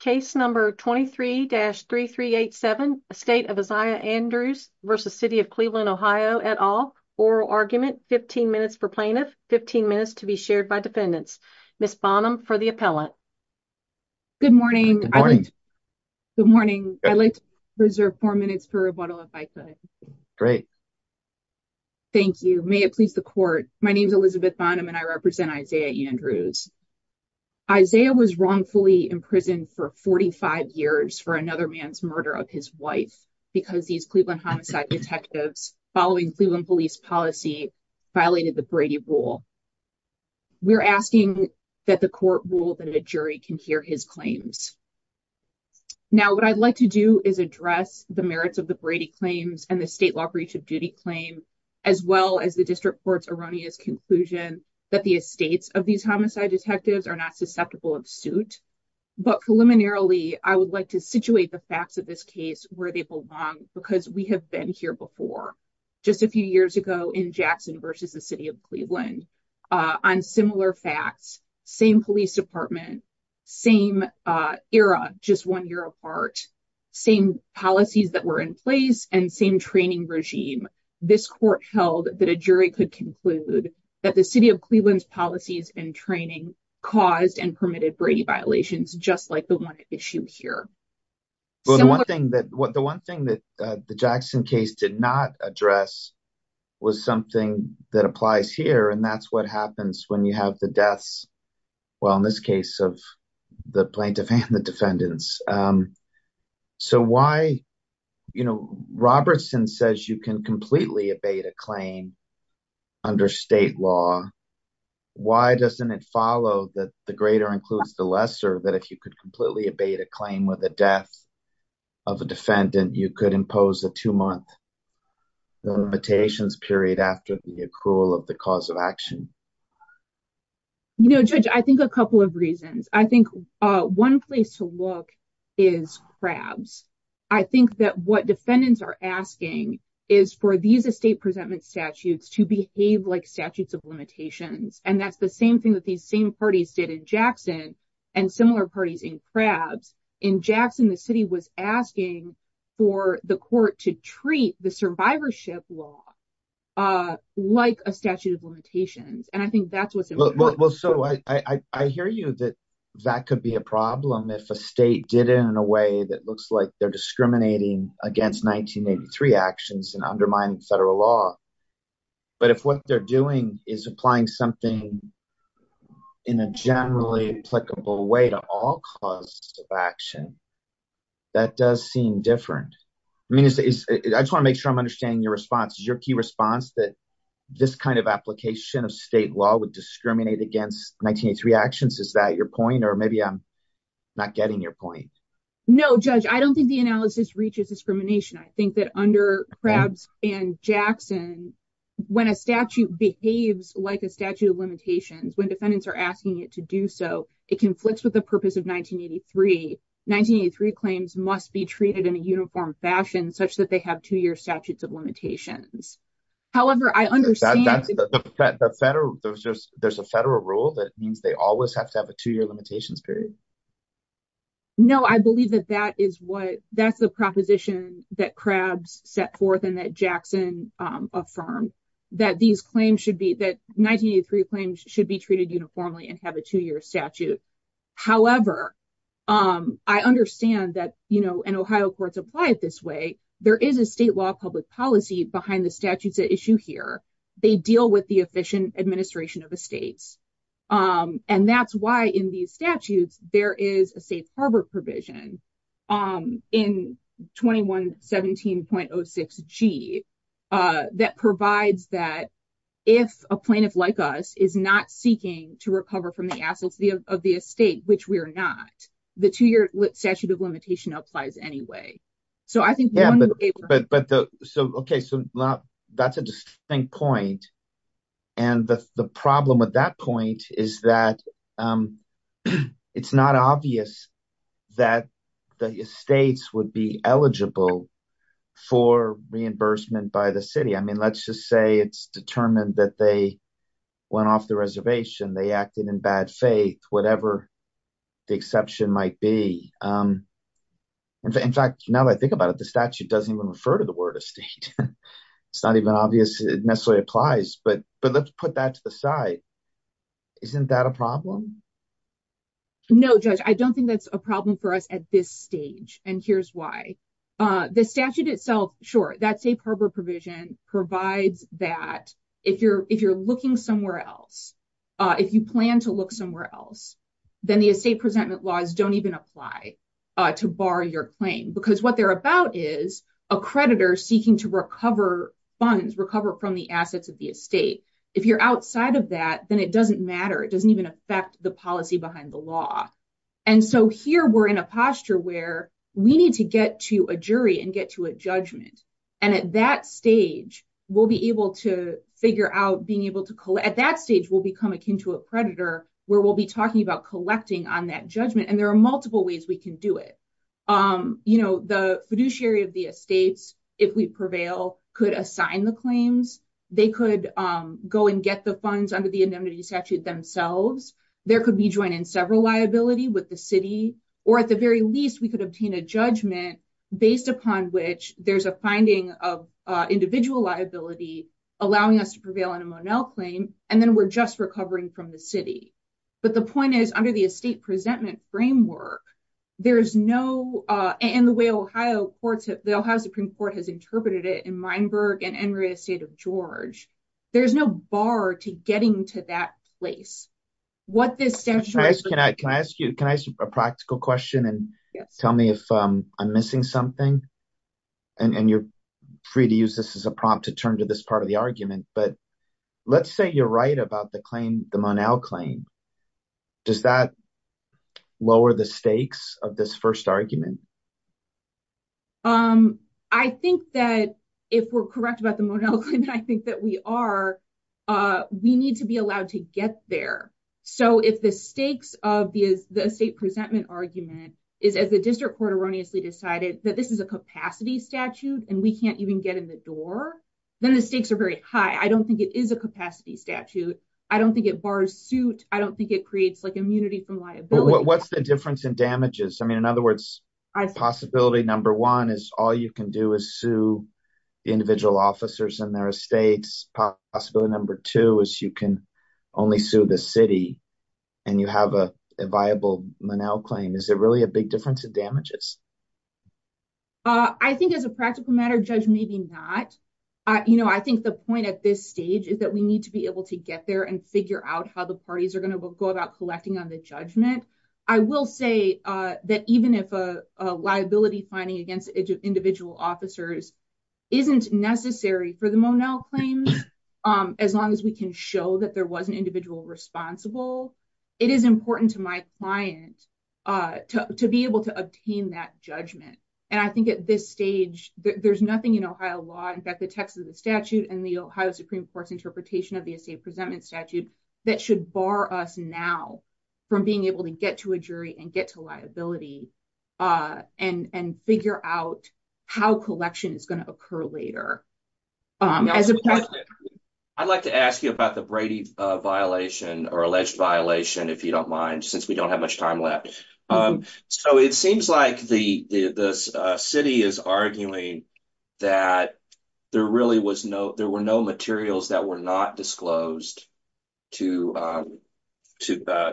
Case number 23-3387, Estate of Isaiah Andrews v. City of Cleveland OH at all. Oral argument, 15 minutes for plaintiff, 15 minutes to be shared by defendants. Ms. Bonham for the appellant. Good morning. Good morning. I'd like to reserve four minutes for rebuttal if I could. Great. Thank you. May it please the court. My name is Elizabeth Bonham and I represent Isaiah Andrews. Isaiah was wrongfully imprisoned for 45 years for another man's murder of his wife because these Cleveland homicide detectives following Cleveland police policy violated the Brady rule. We're asking that the court rule that a jury can hear his claims. Now what I'd like to do is address the merits of the Brady claims and the state law breach of duty claim as well as the district court's erroneous conclusion that the estates of these homicide detectives are not susceptible of suit. But preliminarily, I would like to situate the facts of this case where they belong because we have been here before. Just a few years ago in Jackson v. City of Cleveland on similar facts, same police department, same era, just one year apart, same policies that were in place and same training regime. This court held that a jury could conclude that the City of Cleveland's policies and training caused and permitted Brady violations just like the one at issue here. The one thing that the Jackson case did not address was something that applies here and that's what happens when you have the deaths, well in this case, of the plaintiff and the defendants. So why, you know, Robertson says you can completely obey the claim under state law. Why doesn't it follow that the greater includes the lesser that if you could completely obey the claim with the death of a defendant, you could impose a two-month limitations period after the accrual of the cause of action? You know, Judge, I think a couple of reasons. I think one place to look is crabs. I think that what defendants are asking is for these estate presentment statutes to behave like statutes of limitations and that's the same thing that these same parties did in Jackson and similar parties in crabs. In Jackson, the city was asking for the court to treat the survivorship law like a statute of limitations and I think that's what's important. Well, so I hear you that that could be a problem if a state did it in a way that looks like they're discriminating against 1983 actions and undermining federal law. But if what they're doing is applying something in a generally applicable way to all causes of action, that does seem different. I mean, I just want to make sure I'm understanding your response. Is your key response that this kind of application of state law would discriminate against 1983 actions? Is that your point? Or maybe I'm not getting your point. No, Judge, I don't think the analysis reaches discrimination. I think that under crabs and Jackson, when a statute behaves like a statute of limitations, when defendants are asking it to do so, it conflicts with the purpose of 1983. 1983 claims must be treated in a uniform fashion such that they have two-year statutes of However, I understand that there's a federal rule that means they always have to have a two-year limitations period. No, I believe that that is what that's the proposition that crabs set forth and that Jackson affirmed that these claims should be that 1983 claims should be treated uniformly and have a two-year statute. However, I understand that, you know, and Ohio courts apply it this way. There is a state law public policy behind the statutes at issue here. They deal with the efficient administration of estates. And that's why in these statutes, there is a safe harbor provision in 2117.06g that provides that if a plaintiff like us is not seeking to recover from the assets of the estate, which we are not, the two-year statute of limitation applies anyway. So I think, yeah, but, but, but the, so, okay, so that's a distinct point. And the problem with that point is that it's not obvious that the estates would be eligible for reimbursement by the city. I mean, let's just say it's determined that they went off the reservation. They acted in bad faith, whatever the exception might be. In fact, now that I think about it, the statute doesn't even refer to the word estate. It's not even obvious it necessarily applies, but, but let's put that to the side. Isn't that a problem? No, Judge, I don't think that's a problem for us at this stage. And here's why. The statute itself, sure, that safe harbor provision provides that if you're, if you're looking somewhere else, if you plan to look somewhere else, then the estate presentment laws don't even apply to bar your claim because what they're about is a creditor seeking to recover funds, recover from the assets of the estate. If you're outside of that, then it doesn't matter. It doesn't even affect the policy behind the law. And so here we're in a posture where we need to get to a jury and get to a judgment. And at that stage, we'll be able to figure out being able to collect, at that stage, we'll become akin to a predator where we'll be talking about collecting on that judgment and there are multiple ways we can do it. You know, the fiduciary of the estates, if we prevail, could assign the claims. They could go and get the funds under the indemnity statute themselves. There could be joined in several liability with the city, or at the very least, we could obtain a judgment based upon which there's a finding of individual liability, allowing us to prevail on a Monell claim. And then we're just recovering from the city. But the point is, under the estate presentment framework, there is no, and the way Ohio courts have, the Ohio Supreme Court has interpreted it in Meinberg and in the estate of George, there's no bar to getting to that place. What this statute... Can I ask you a practical question and tell me if I'm missing something? And you're free to use this as a prompt to turn to this part of the argument, but let's say you're right about the claim, the Monell claim. Does that lower the stakes of this first argument? I think that if we're correct about the Monell claim, I think that we are, we need to be allowed to get there. So if the stakes of the estate presentment argument is, as the district court erroneously decided, that this is a capacity statute and we can't even get in the door, then the stakes are very high. I don't think it is a capacity statute. I don't think it bars suit. I don't think it creates immunity from liability. What's the difference in damages? I mean, in other words, possibility number one is all you can do is sue individual officers in their estates. Possibility number two is you can only sue the city and you have a viable Monell claim. Is it really a big difference in damages? I think as a practical matter, Judge, maybe not. I think the point at this stage is that we need to be able to get there and figure out how the parties are going to go about collecting on the judgment. I will say that even if a liability finding against individual officers isn't necessary for the Monell claims, as long as we can show that there was an individual responsible, it is important to my client to be able to obtain that judgment. And I think at this stage, there's nothing in Ohio law. In fact, the text of the statute and the Ohio Supreme Court's interpretation of the estate presentment statute that should bar us now from being able to get to a jury and get to liability and figure out how collection is going to occur later. I'd like to ask you about the Brady violation or alleged violation, if you don't mind, since we don't have much time left. So it seems like the city is arguing that there really was no there were no materials that were not disclosed to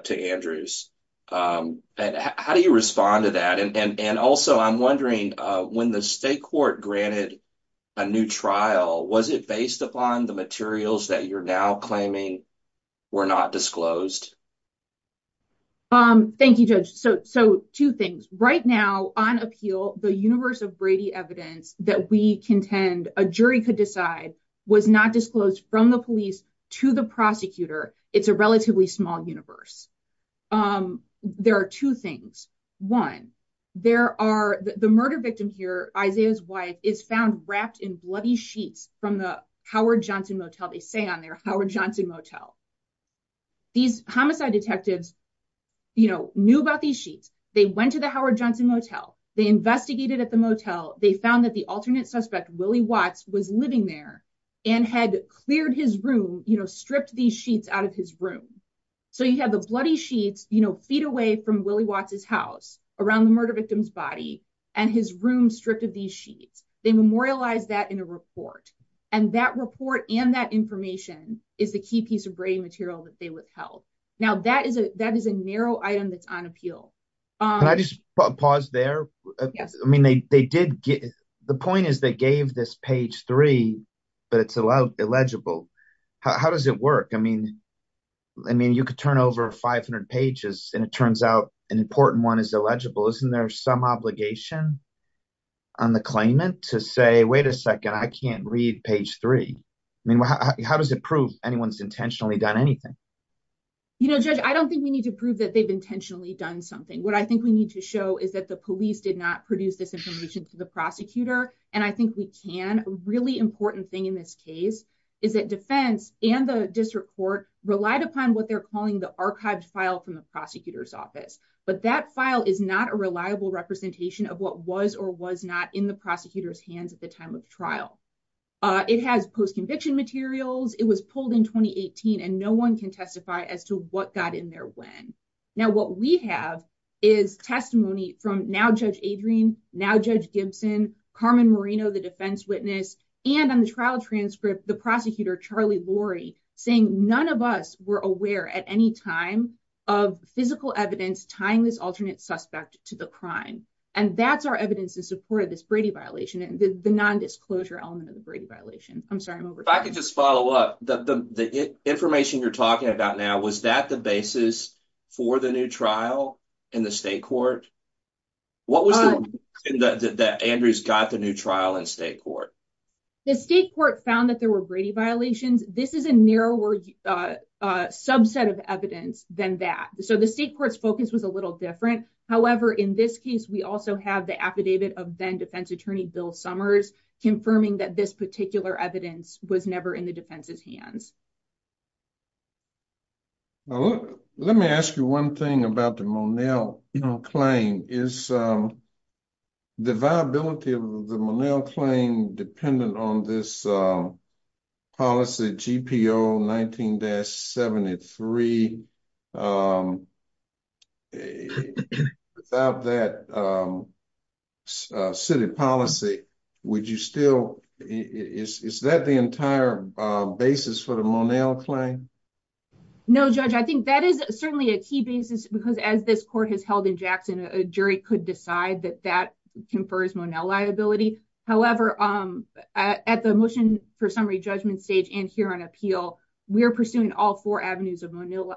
Andrews. How do you respond to that? And also, I'm wondering, when the state court granted a new trial, was it based upon the materials that you're now claiming were not disclosed? Thank you, Judge. So two things right now on appeal, the universe of Brady evidence that we contend a jury could decide was not disclosed from the police to the prosecutor. It's a relatively small universe. There are two things. One, there are the murder victim here, Isaiah's wife, is found wrapped in bloody sheets from the Howard Johnson Motel, they say on their Howard Johnson Motel. These homicide detectives, you know, knew about these sheets. They went to the Howard Johnson Motel. They investigated at the motel. They found that the alternate suspect, Willie Watts, was living there and had cleared his room, you know, stripped these sheets out of his room. So you have the bloody sheets, you know, feet away from Willie Watts's house around the murder victim's body and his room stripped of these sheets. They memorialize that in a report. And that report and that information is the key piece of Brady material that they withheld. Now, that is a narrow item that's on appeal. Can I just pause there? I mean, they did get the point is they gave this page three, but it's allowed illegible. How does it work? I mean, I mean, you could turn over 500 pages and it turns out an important one is illegible. Isn't there some obligation on the claimant to say, wait a second, I can't read page three. I mean, how does it prove anyone's intentionally done anything? You know, Judge, I don't think we need to prove that they've intentionally done something. What I think we need to show is that the police did not produce this information to the prosecutor. And I think we can really important thing in this case is that defense and the district court relied upon what they're calling the archived file from the prosecutor's office. But that file is not a reliable representation of what was or was not in the prosecutor's hands at the time of trial. It has post-conviction materials. It was pulled in 2018, and no one can testify as to what got in there when. Now, what we have is testimony from now Judge Adrian, now Judge Gibson, Carmen Marino, the defense witness, and on the trial transcript, the prosecutor, Charlie Laurie, saying none of us were aware at any time of physical evidence tying this alternate suspect to the crime. And that's our evidence in support of this Brady violation and the nondisclosure element of the Brady violation. I'm sorry, I'm over time. If I could just follow up, the information you're talking about now, was that the basis for the new trial in the state court? What was the reason that Andrews got the new trial in state court? The state court found that there were Brady violations. This is a narrower subset of evidence than that. So the state court's focus was a little different. However, in this case, we also have the affidavit of then defense attorney Bill Summers confirming that this particular evidence was never in the defense's hands. Let me ask you one thing about the Monell claim. Is the viability of the Monell claim dependent on this policy, GPO 19-73? Without that city policy, would you still, is that the entire basis for the Monell claim? No, Judge. I think that is certainly a key basis because as this court has held in Jackson, a jury could decide that that confers Monell liability. However, at the motion for summary judgment stage and here on appeal, we are pursuing all four avenues of Monell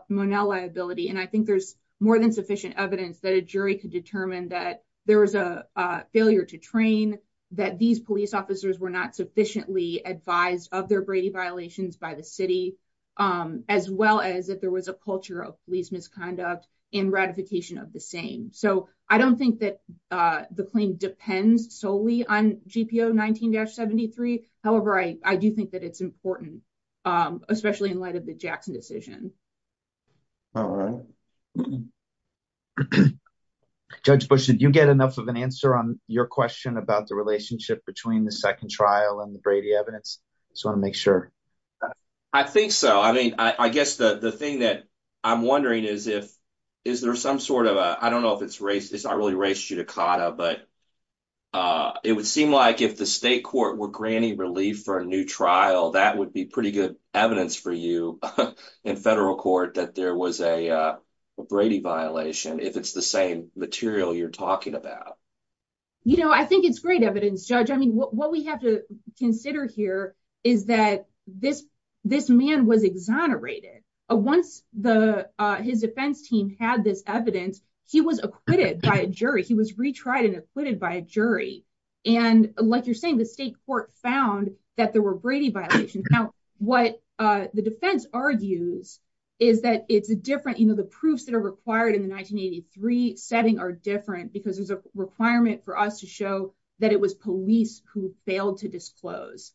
liability. And I think there's more than sufficient evidence that a jury could determine that there was a failure to train, that these police officers were not sufficiently advised of their Brady violations by the city, as well as that there was a culture of police misconduct in ratification of the same. So I don't think that the claim depends solely on GPO 19-73. However, I do think that it's important, especially in light of the Jackson decision. All right. Judge Bush, did you get enough of an answer on your question about the relationship between the second trial and the Brady evidence? Just want to make sure. I think so. I mean, I guess the thing that I'm wondering is if, is there some sort of a, I don't know if it's race, it's not really race judicata, but it would seem like if the state court were granting relief for a new trial, that would be pretty good evidence for you in federal court that there was a Brady violation, if it's the same material you're talking about. You know, I think it's great evidence, Judge. I mean, what we have to consider here is that this man was exonerated. Once his defense team had this evidence, he was acquitted by a jury. He was retried and acquitted by a jury. And like you're saying, the state court found that there were Brady violations. Now, what the defense argues is that it's a different, you know, the proofs that are required in the 1983 setting are different because there's a requirement for us to show that it was police who failed to disclose.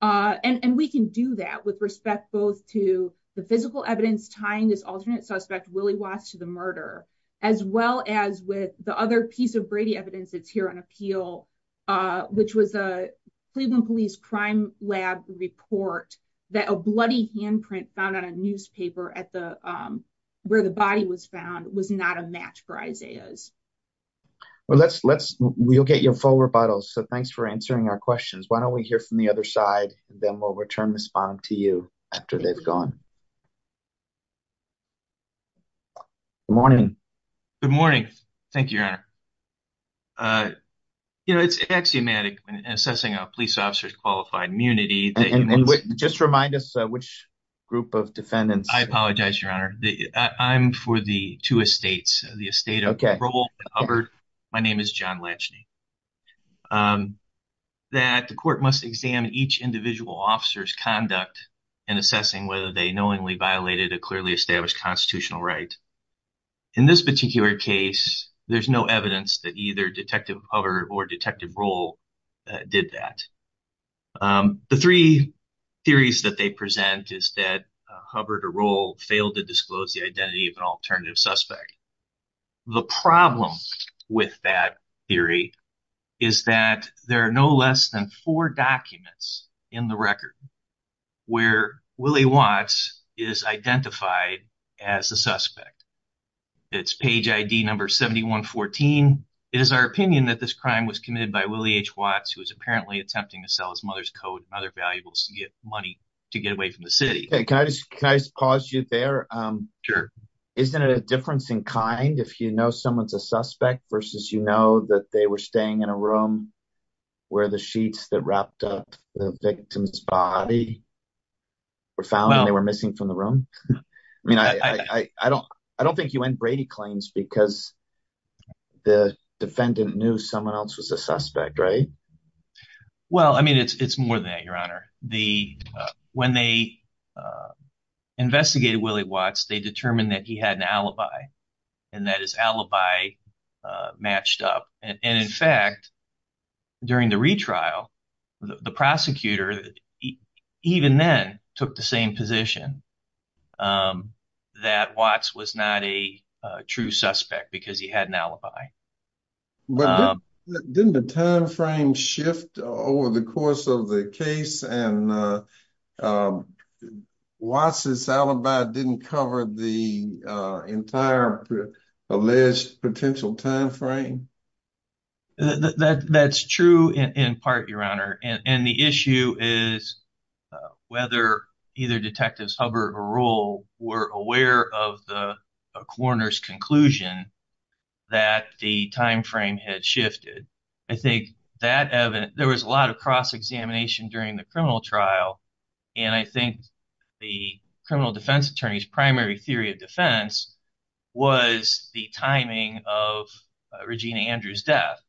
And we can do that with respect both to the physical evidence tying this alternate suspect, Willie Watts, to the murder, as well as with the other piece of Brady evidence that's here on appeal, which was a Cleveland Police Crime Lab report that a bloody handprint found on a newspaper where the body was found was not a match for Isaiah's. Well, we'll get your full rebuttals. So thanks for answering our questions. Why don't we hear from the other side? Then we'll return this bomb to you after they've gone. Good morning. Good morning. Thank you, Your Honor. You know, it's axiomatic in assessing a police officer's qualified immunity. Just remind us which group of defendants. I apologize, Your Honor. I'm for the two estates. The estate of Roble and Hubbard. My name is John Latchney. That the court must examine each individual officer's conduct in assessing whether they knowingly violated a clearly established constitutional right. In this particular case, there's no evidence that either Detective Hubbard or Detective Roble did that. The three theories that they present is that Hubbard or Roble failed to disclose the identity of an alternative suspect. The problem with that theory is that there are no less than four documents in the record where Willie Watts is identified as the suspect. It's page ID number 7114. It is our opinion that this crime was committed by Willie H. Watts, who is apparently attempting to sell his mother's coat and other valuables to get money to get away from the city. Hey, can I just pause you there? Sure. Isn't it a difference in kind if you know someone's a suspect versus you know that they were staying in a room where the sheets that wrapped up the victim's body were found and they were missing from the room? I mean, I don't think you end Brady claims because the defendant knew someone else was a suspect, right? Well, I mean, it's more than that, Your Honor. When they investigated Willie Watts, they determined that he had an alibi and that his alibi matched up. And in fact, during the retrial, the prosecutor, even then, took the same position that Watts was not a true suspect because he had an alibi. Didn't the time frame shift over the course of the case and Watts' alibi didn't cover the entire alleged potential time frame? That's true in part, Your Honor. And the issue is whether either detectives Hubbard or Rule were aware of the coroner's conclusion that the time frame had shifted. I think that there was a lot of cross-examination during the criminal trial. And I think the criminal defense attorney's primary theory of defense was the timing of Regina Andrews' death.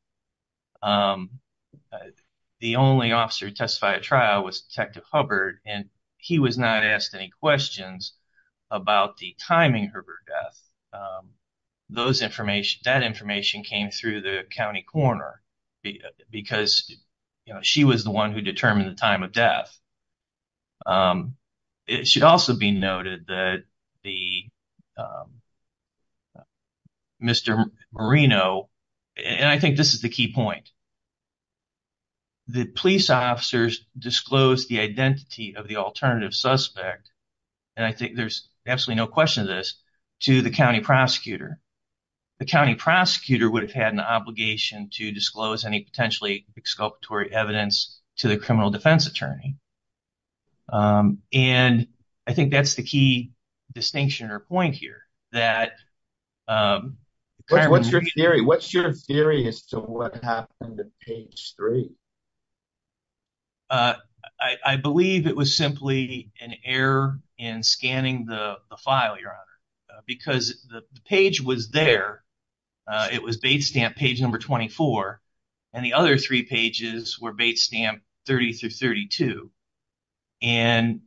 The only officer who testified at trial was Detective Hubbard, and he was not asked any questions about the timing of her death. That information came through the county coroner because she was the one who determined the time of death. It should also be noted that Mr. Marino, and I think this is the key point, the police officers disclosed the identity of the alternative suspect, and I think there's absolutely no question of this, to the county prosecutor. The county prosecutor would have had an obligation to disclose any potentially exculpatory evidence to the criminal defense attorney. And I think that's the key distinction or point here. What's your theory as to what happened at page three? I believe it was simply an error in scanning the file, Your Honor, because the page was there. It was bait stamp page number 24, and the other three pages were bait stamp 30 through 32. And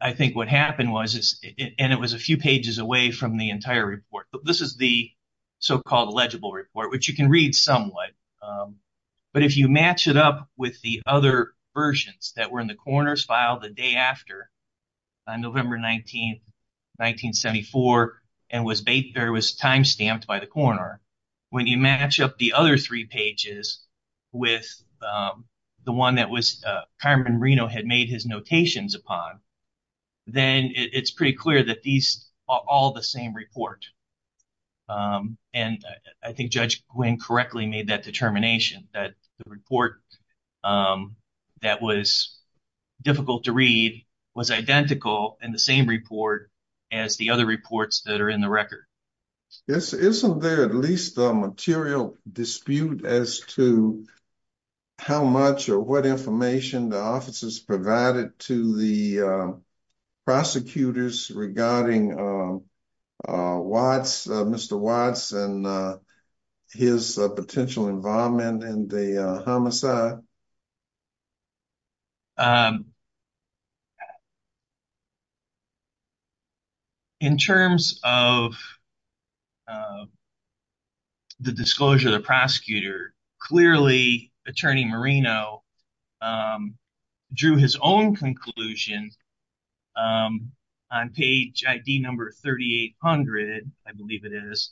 I think what happened was, and it was a few pages away from the entire report, but this is the so-called legible report, which you can read somewhat. But if you match it up with the other versions that were in the coroner's file the day after, on November 19, 1974, and was time stamped by the coroner, when you match up the other pages with the one that Carmen Reno had made his notations upon, then it's pretty clear that these are all the same report. And I think Judge Gwynne correctly made that determination, that the report that was difficult to read was identical in the same report as the other reports that are in the record. Yes, isn't there at least a material dispute as to how much or what information the officers provided to the prosecutors regarding Mr. Watts and his potential involvement in the homicide? In terms of the disclosure of the prosecutor, clearly Attorney Marino drew his own conclusion on page ID number 3800, I believe it is,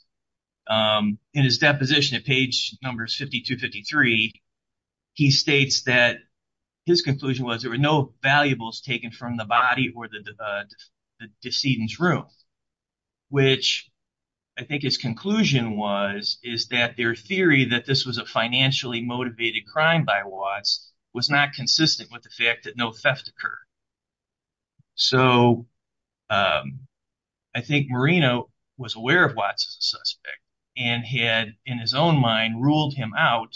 in his deposition at page number 5253, he states that his conclusion was there were no valuables taken from the body or the decedent's room, which I think his conclusion was, is that their theory that this was a financially motivated crime by Watts was not consistent with the fact that no theft occurred. So, I think Marino was aware of Watts as a suspect and had, in his own mind, ruled him out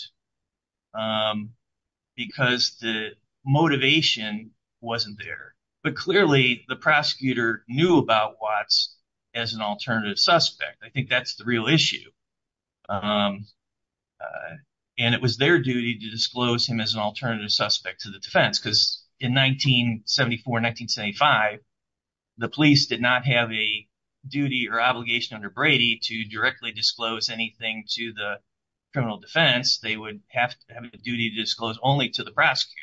because the motivation wasn't there. But clearly, the prosecutor knew about Watts as an alternative suspect. I think that's the real issue. And it was their duty to disclose him as an alternative suspect to the defense, because in 1974 and 1975, the police did not have a duty or obligation under Brady to directly disclose anything to the criminal defense. They would have to have a duty to disclose only to the prosecutor.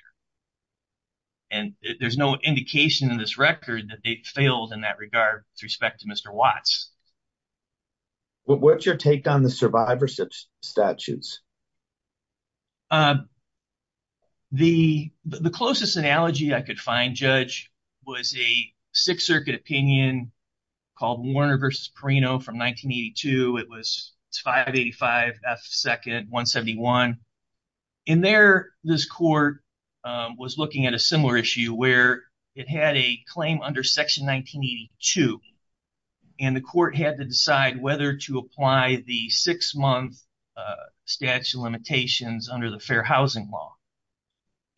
And there's no indication in this record that they failed in that regard with respect to Mr. Watts. What's your take on the survivor statutes? The closest analogy I could find, Judge, was a Sixth Circuit opinion called Warner v. Perino from 1982. It was 585 F. 2nd, 171. In there, this court was looking at a similar issue where it had a claim under Section 1982, and the court had to decide whether to apply the six-month statute of limitations under the Fair Housing Law.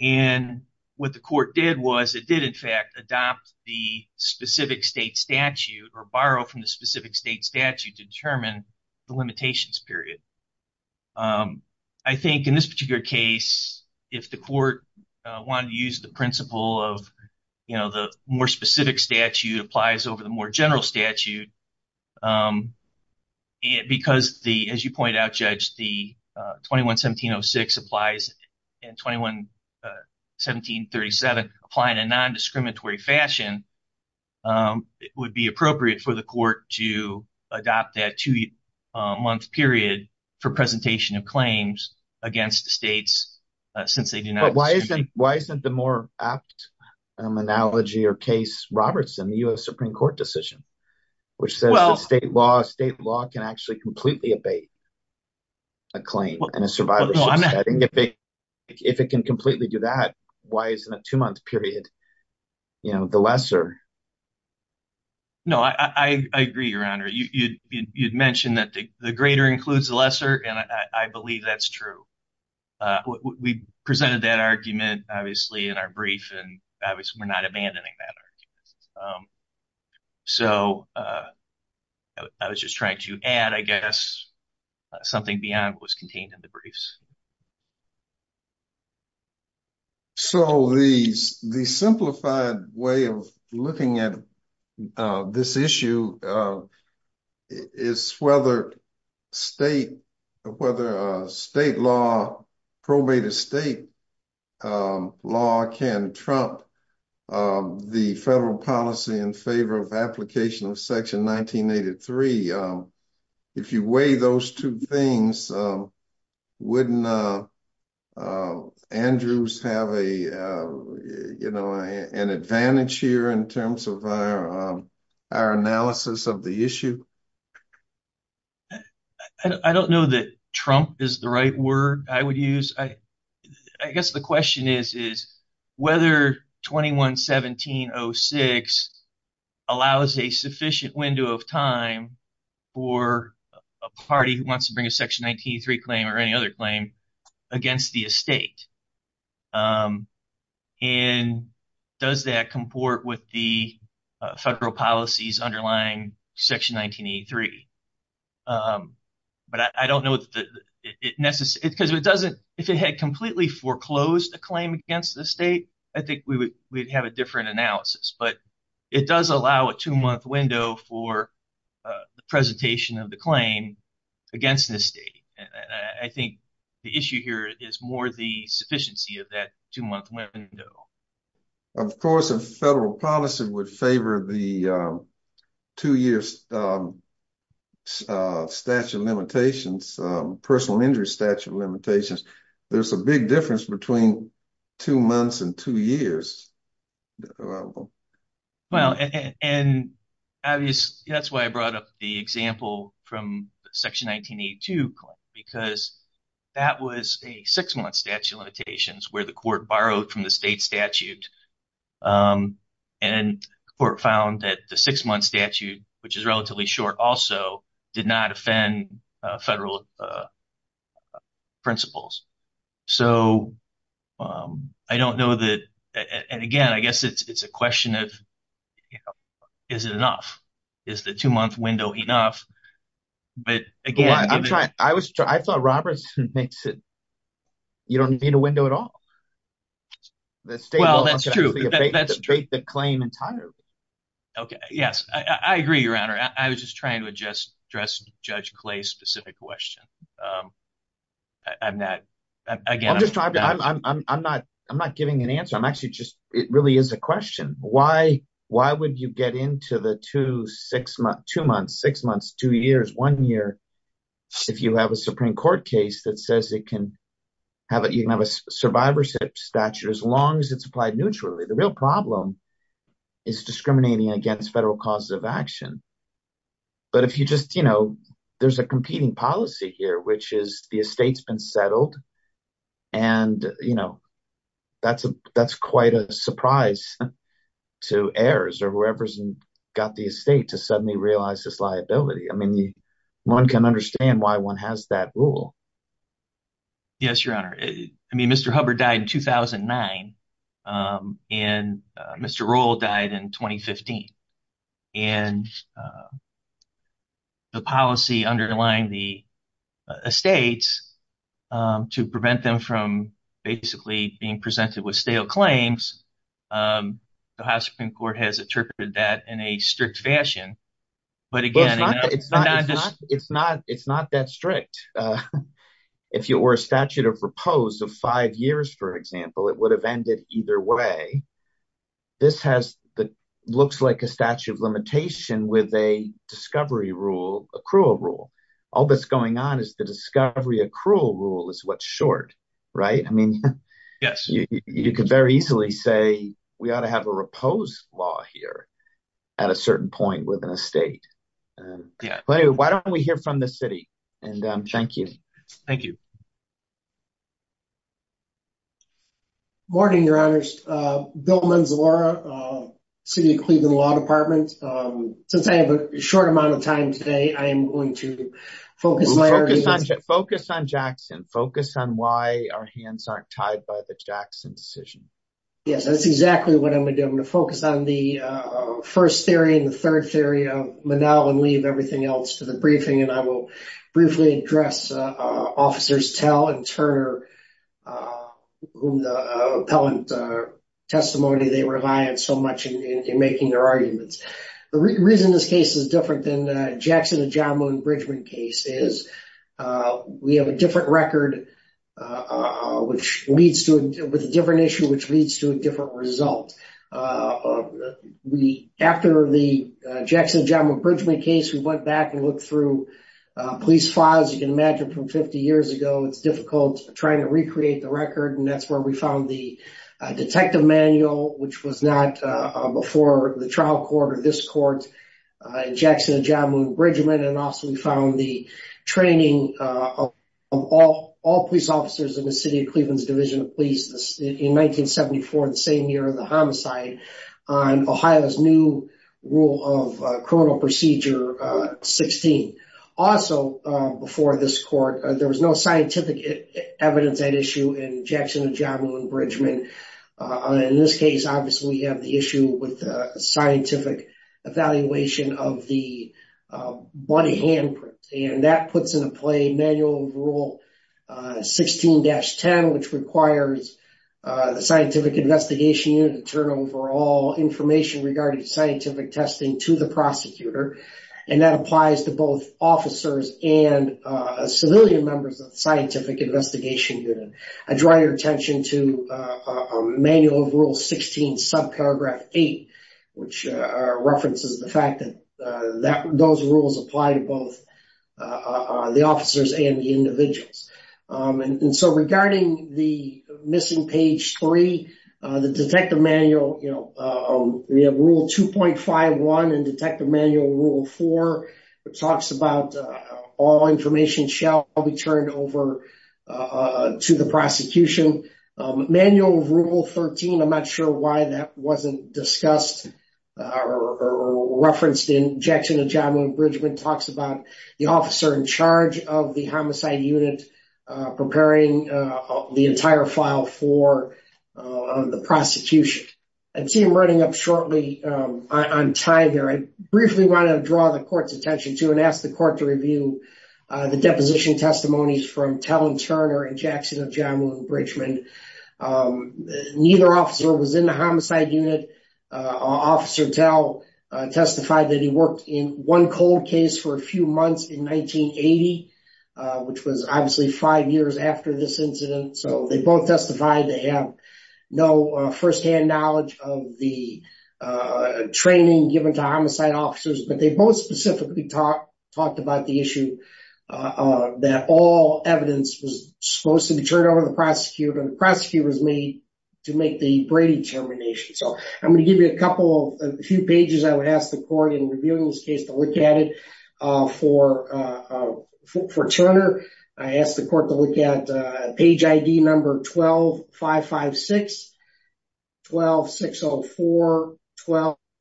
And what the court did was it did, in fact, adopt the specific state statute or borrow from the specific state statute to determine the limitations period. I think in this particular case, if the court wanted to use the principle of, you know, the more specific statute applies over the more general statute, because, as you point out, Judge, the 21-1706 applies and 21-1737 apply in a non-discriminatory fashion, it would be appropriate for the court to adopt that two-month period for presentation of claims against the states, since they do not. But why isn't the more apt analogy or case Robertson, the U.S. Supreme Court decision, which says that state law can actually completely abate a claim in a survivor's case? If it can completely do that, why isn't a two-month period, you know, the lesser? No, I agree, Your Honor. You'd mentioned that the greater includes the lesser, and I believe that's true. We presented that argument, obviously, in our brief, and obviously we're not abandoning that argument. So I was just trying to add, I guess, something beyond what was contained in the briefs. So the simplified way of looking at this issue is whether state law, probated state law, can trump the federal policy in favor of application of Section 1983. If you weigh those two things, wouldn't Andrews have a, you know, an advantage here in terms of our analysis of the issue? I don't know that trump is the right word I would use. I guess the question is whether 21-1706 allows a sufficient window of time for a party who wants to bring a Section 1983 claim or any other claim against the estate, and does that comport with the federal policies underlying Section 1983? But I don't know that it necessarily, because if it doesn't, if it had completely foreclosed a claim against the state, I think we would have a different analysis. But it does allow a two-month window for the presentation of the claim against the state. And I think the issue here is more the sufficiency of that two-month window. Of course, a federal policy would favor the two-year statute of limitations, personal injury statute of limitations. There's a big difference between two months and two years. Well, and that's why I brought up the example from Section 1982 because that was a six-month statute of limitations where the court borrowed from the state statute. And the court found that the six-month statute, which is relatively short also, did not offend federal principles. So I don't know that, and again, I guess it's a question of is it enough? Is the two-month window enough? But again, I'm trying, I thought Robertson makes it, you don't need a window at all. The state will abate the claim entirely. Okay, yes, I agree, Your Honor. I was just trying to address Judge Clay's specific question. I'm not, again, I'm just trying to, I'm not giving an answer. I'm actually just, it really is a question. Why would you get into the two months, six months, two years, one year if you have a Supreme Court case that says you can have a survivor's statute as long as it's applied neutrally? The real problem is discriminating against federal causes of action. But if you just, you know, there's a competing policy here, which is the estate's been settled and, you know, that's quite a surprise to heirs or whoever's got the estate to suddenly realize this liability. I mean, one can understand why one has that rule. Yes, Your Honor. I mean, Mr. Hubbard died in 2009, and Mr. Roll died in 2015. And the policy underlying the estates to prevent them from basically being presented with stale claims, the House Supreme Court has interpreted that in a strict fashion. But again, it's not, it's not, it's not that strict. If you were a statute of repose of five years, for example, it would have ended either way. This has the, looks like a statute of limitation with a discovery rule, accrual rule. All that's going on is the discovery accrual rule is what's short, right? I mean, yes, you could very easily say we ought to have a repose law here at a certain point within a state. Why don't we hear from the city? And thank you. Thank you. Good morning, Your Honors, Bill Manzalora, City of Cleveland Law Department. Since I have a short amount of time today, I am going to focus on- Focus on Jackson, focus on why our hands aren't tied by the Jackson decision. Yes, that's exactly what I'm going to do. I'm going to focus on the first theory and the third theory of Manal and leave everything else to the briefing. And I will briefly address Officers Tell and Turner, who the appellant testimony they rely on so much in making their arguments. The reason this case is different than the Jackson-Ajamu-Bridgeman case is we have a different record, which leads to a different issue, which leads to a different result. We, after the Jackson-Ajamu-Bridgeman case, we went back and looked through police files. You can imagine from 50 years ago, it's difficult trying to recreate the record. And that's where we found the detective manual, which was not before the trial court or this court, Jackson-Ajamu-Bridgeman. And also we found the training of all police officers in the City of Cleveland's Division of Police in 1974, the same year of the homicide, on Ohio's new rule of criminal procedure 16. Also, before this court, there was no scientific evidence at issue in Jackson-Ajamu-Bridgeman. In this case, obviously, we have the issue with the scientific evaluation of the body handprint. And that puts into play Manual of Rule 16-10, which requires the Scientific Investigation Unit to turn over all information regarding scientific testing to the prosecutor. And that applies to both officers and civilian members of the Scientific Investigation Unit. I draw your attention to Manual of Rule 16, subparagraph 8, which references the fact that those rules apply to both the officers and the individuals. And so regarding the missing page 3, the detective manual, you know, we have Rule 2.51 and Detective Manual Rule 4, which talks about all information shall be turned over to the prosecution. Manual of Rule 13, I'm not sure why that wasn't discussed or referenced in Jackson-Ajamu-Bridgeman, talks about the officer in charge of the homicide unit preparing the entire file for the prosecution. I see I'm running up shortly on time here. I briefly want to draw the court's attention to and ask the court to review the deposition testimonies from Tell and Turner in Jackson-Ajamu-Bridgeman. Neither officer was in the homicide unit. Officer Tell testified that he worked in one cold case for a few months in 1980, which was obviously five years after this incident. So they both testified they have no first-hand knowledge of the training given to homicide on the issue that all evidence was supposed to be turned over to the prosecutor. The prosecutor was made to make the Brady termination. So I'm going to give you a couple of a few pages. I would ask the court in reviewing this case to look at it. For Turner, I ask the court to look at page ID number 12-556, 12-604,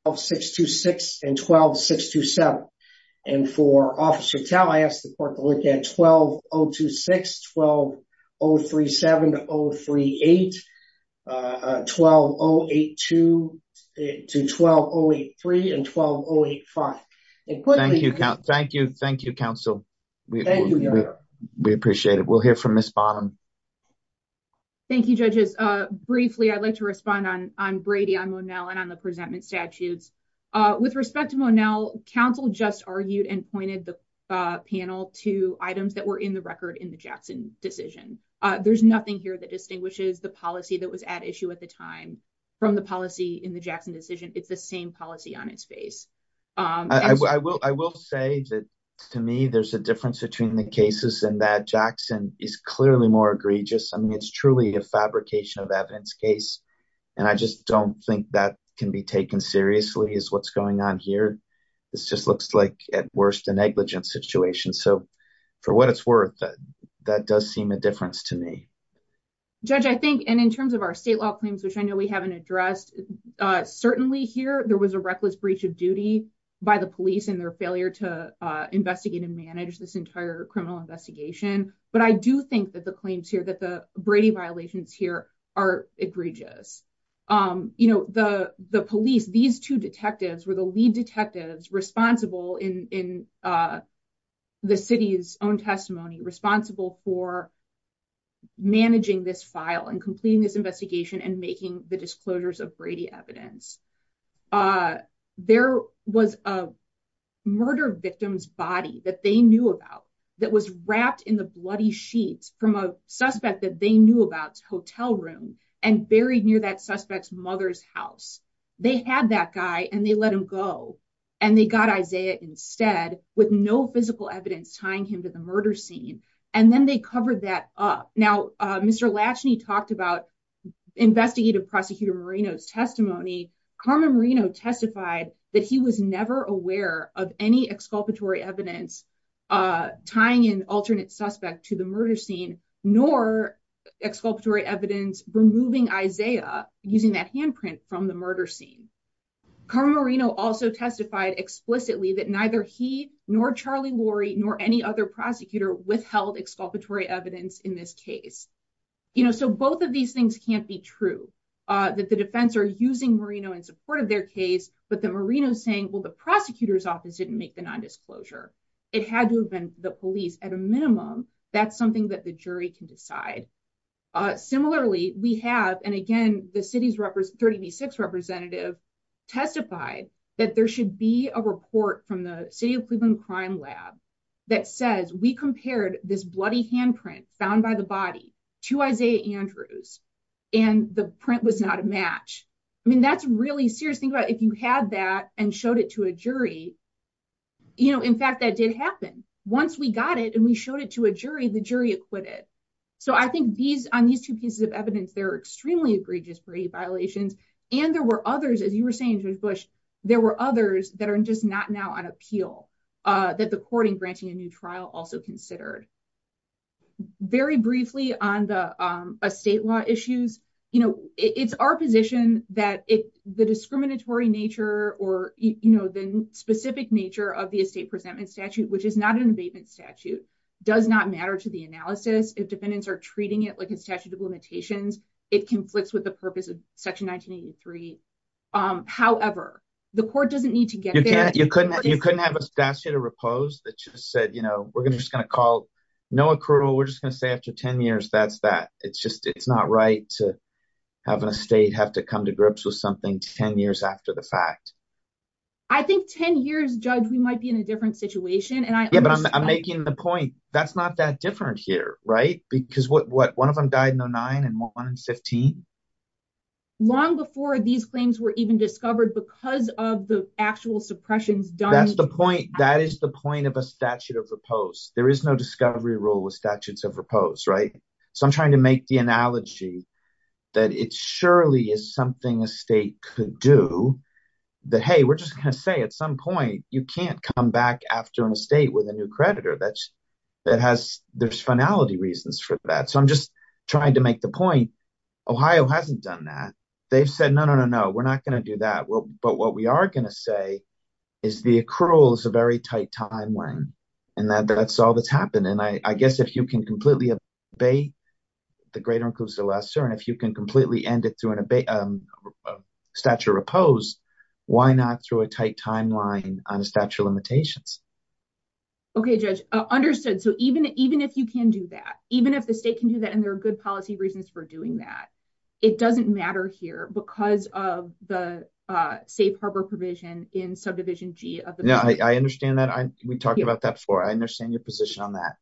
12-626, and 12-627. And for Officer Tell, I ask the court to look at 12-026, 12-037, 12-038, 12-082, 12-083, and 12-085. Thank you, counsel. We appreciate it. We'll hear from Ms. Bonham. Thank you, judges. Briefly, I'd like to respond on Brady, on Monell, and on the presentment statutes. With respect to Monell, counsel just argued and pointed the panel to items that were in the record in the Jackson decision. There's nothing here that distinguishes the policy that was at issue at the time from the policy in the Jackson decision. It's the same policy on its face. I will say that to me, there's a difference between the cases and that Jackson is clearly more egregious. I mean, it's truly a fabrication of evidence case. And I just don't think that can be taken seriously is what's going on here. This just looks like, at worst, a negligent situation. So for what it's worth, that does seem a difference to me. Judge, I think, and in terms of our state law claims, which I know we haven't addressed, certainly here, there was a reckless breach of duty by the police in their failure to investigate and manage this entire criminal investigation. But I do think that the claims here, that the Brady violations here are egregious. You know, the police, these two detectives were the lead detectives responsible in the city's own testimony, responsible for managing this file and completing this investigation and making the disclosures of Brady evidence. There was a murder victim's body that they knew about that was wrapped in the bloody sheets from a suspect that they knew about hotel room and buried near that suspect's mother's house. They had that guy and they let him go and they got Isaiah instead with no physical evidence tying him to the murder scene. And then they covered that up. Now, Mr. Latchney talked about investigative prosecutor Marino's testimony. Carmen Marino testified that he was never aware of any exculpatory evidence tying an alternate suspect to the murder scene, nor exculpatory evidence removing Isaiah using that handprint from the murder scene. Carmen Marino also testified explicitly that neither he nor Charlie Lorry nor any other prosecutor withheld exculpatory evidence in this case. So both of these things can't be true, that the defense are using Marino in support of their case, but the Marino saying, well, the prosecutor's office didn't make the nondisclosure. It had to have been the police at a minimum. That's something that the jury can decide. Similarly, we have, and again, the city's 30 v. 6 representative testified that there should be a report from the city of Cleveland crime lab that says we compared this bloody handprint found by the body to Isaiah Andrews. And the print was not a match. I mean, that's really serious. If you had that and showed it to a jury, in fact, that did happen. Once we got it and we showed it to a jury, the jury acquitted. So I think on these two pieces of evidence, there are extremely egregious brevity violations. And there were others, as you were saying, Judge Bush, there were others that are just not now on appeal that the courting granting a new trial also considered. Very briefly on the estate law issues, it's our position that the discriminatory nature or the specific nature of the estate presentment statute, which is not an abatement statute, does not matter to the analysis. If defendants are treating it like a statute of limitations, it conflicts with the purpose of Section 1983. However, the court doesn't need to get there. You couldn't have a statute of repose that just said, you know, we're just going to call no accrual. We're just going to say after 10 years, that's that. It's not right to have an estate have to come to grips with something 10 years after the fact. I think 10 years, Judge, we might be in a different situation. And I'm making the point. That's not that different here, right? Because one of them died in 09 and one in 15. Long before these claims were even discovered because of the actual suppressions done. That's the point. That is the point of a statute of repose. There is no discovery rule with statutes of repose, right? So I'm trying to make the analogy that it surely is something a state could do. That, hey, we're just going to say at some point, you can't come back after an estate with a new creditor. That has, there's finality reasons for that. So I'm just trying to make the point. Ohio hasn't done that. They've said, no, no, no, no, we're not going to do that. But what we are going to say is the accrual is a very tight timeline. And that's all that's happened. I guess if you can completely abate the greater includes the lesser, and if you can completely end it through a statute of repose, why not through a tight timeline on a statute of limitations? Okay, Judge, understood. So even if you can do that, even if the state can do that, and there are good policy reasons for doing that, it doesn't matter here because of the safe harbor provision in subdivision G. I understand that. We talked about that before. I understand your position on that.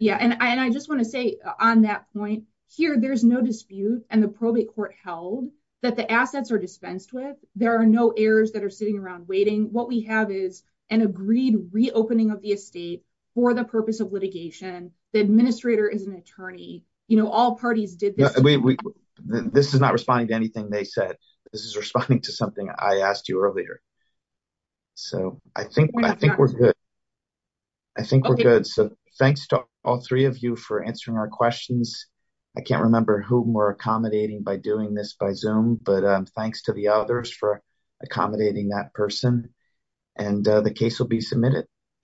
Yeah. And I just want to say on that point here, there's no dispute and the probate court held that the assets are dispensed with. There are no errors that are sitting around waiting. What we have is an agreed reopening of the estate for the purpose of litigation. The administrator is an attorney, you know, all parties did. This is not responding to anything they said. This is responding to something I asked you earlier. So I think, I think we're good. I think we're good. Thanks to all three of you for answering our questions. I can't remember whom we're accommodating by doing this by Zoom, but thanks to the others for accommodating that person. And the case will be submitted.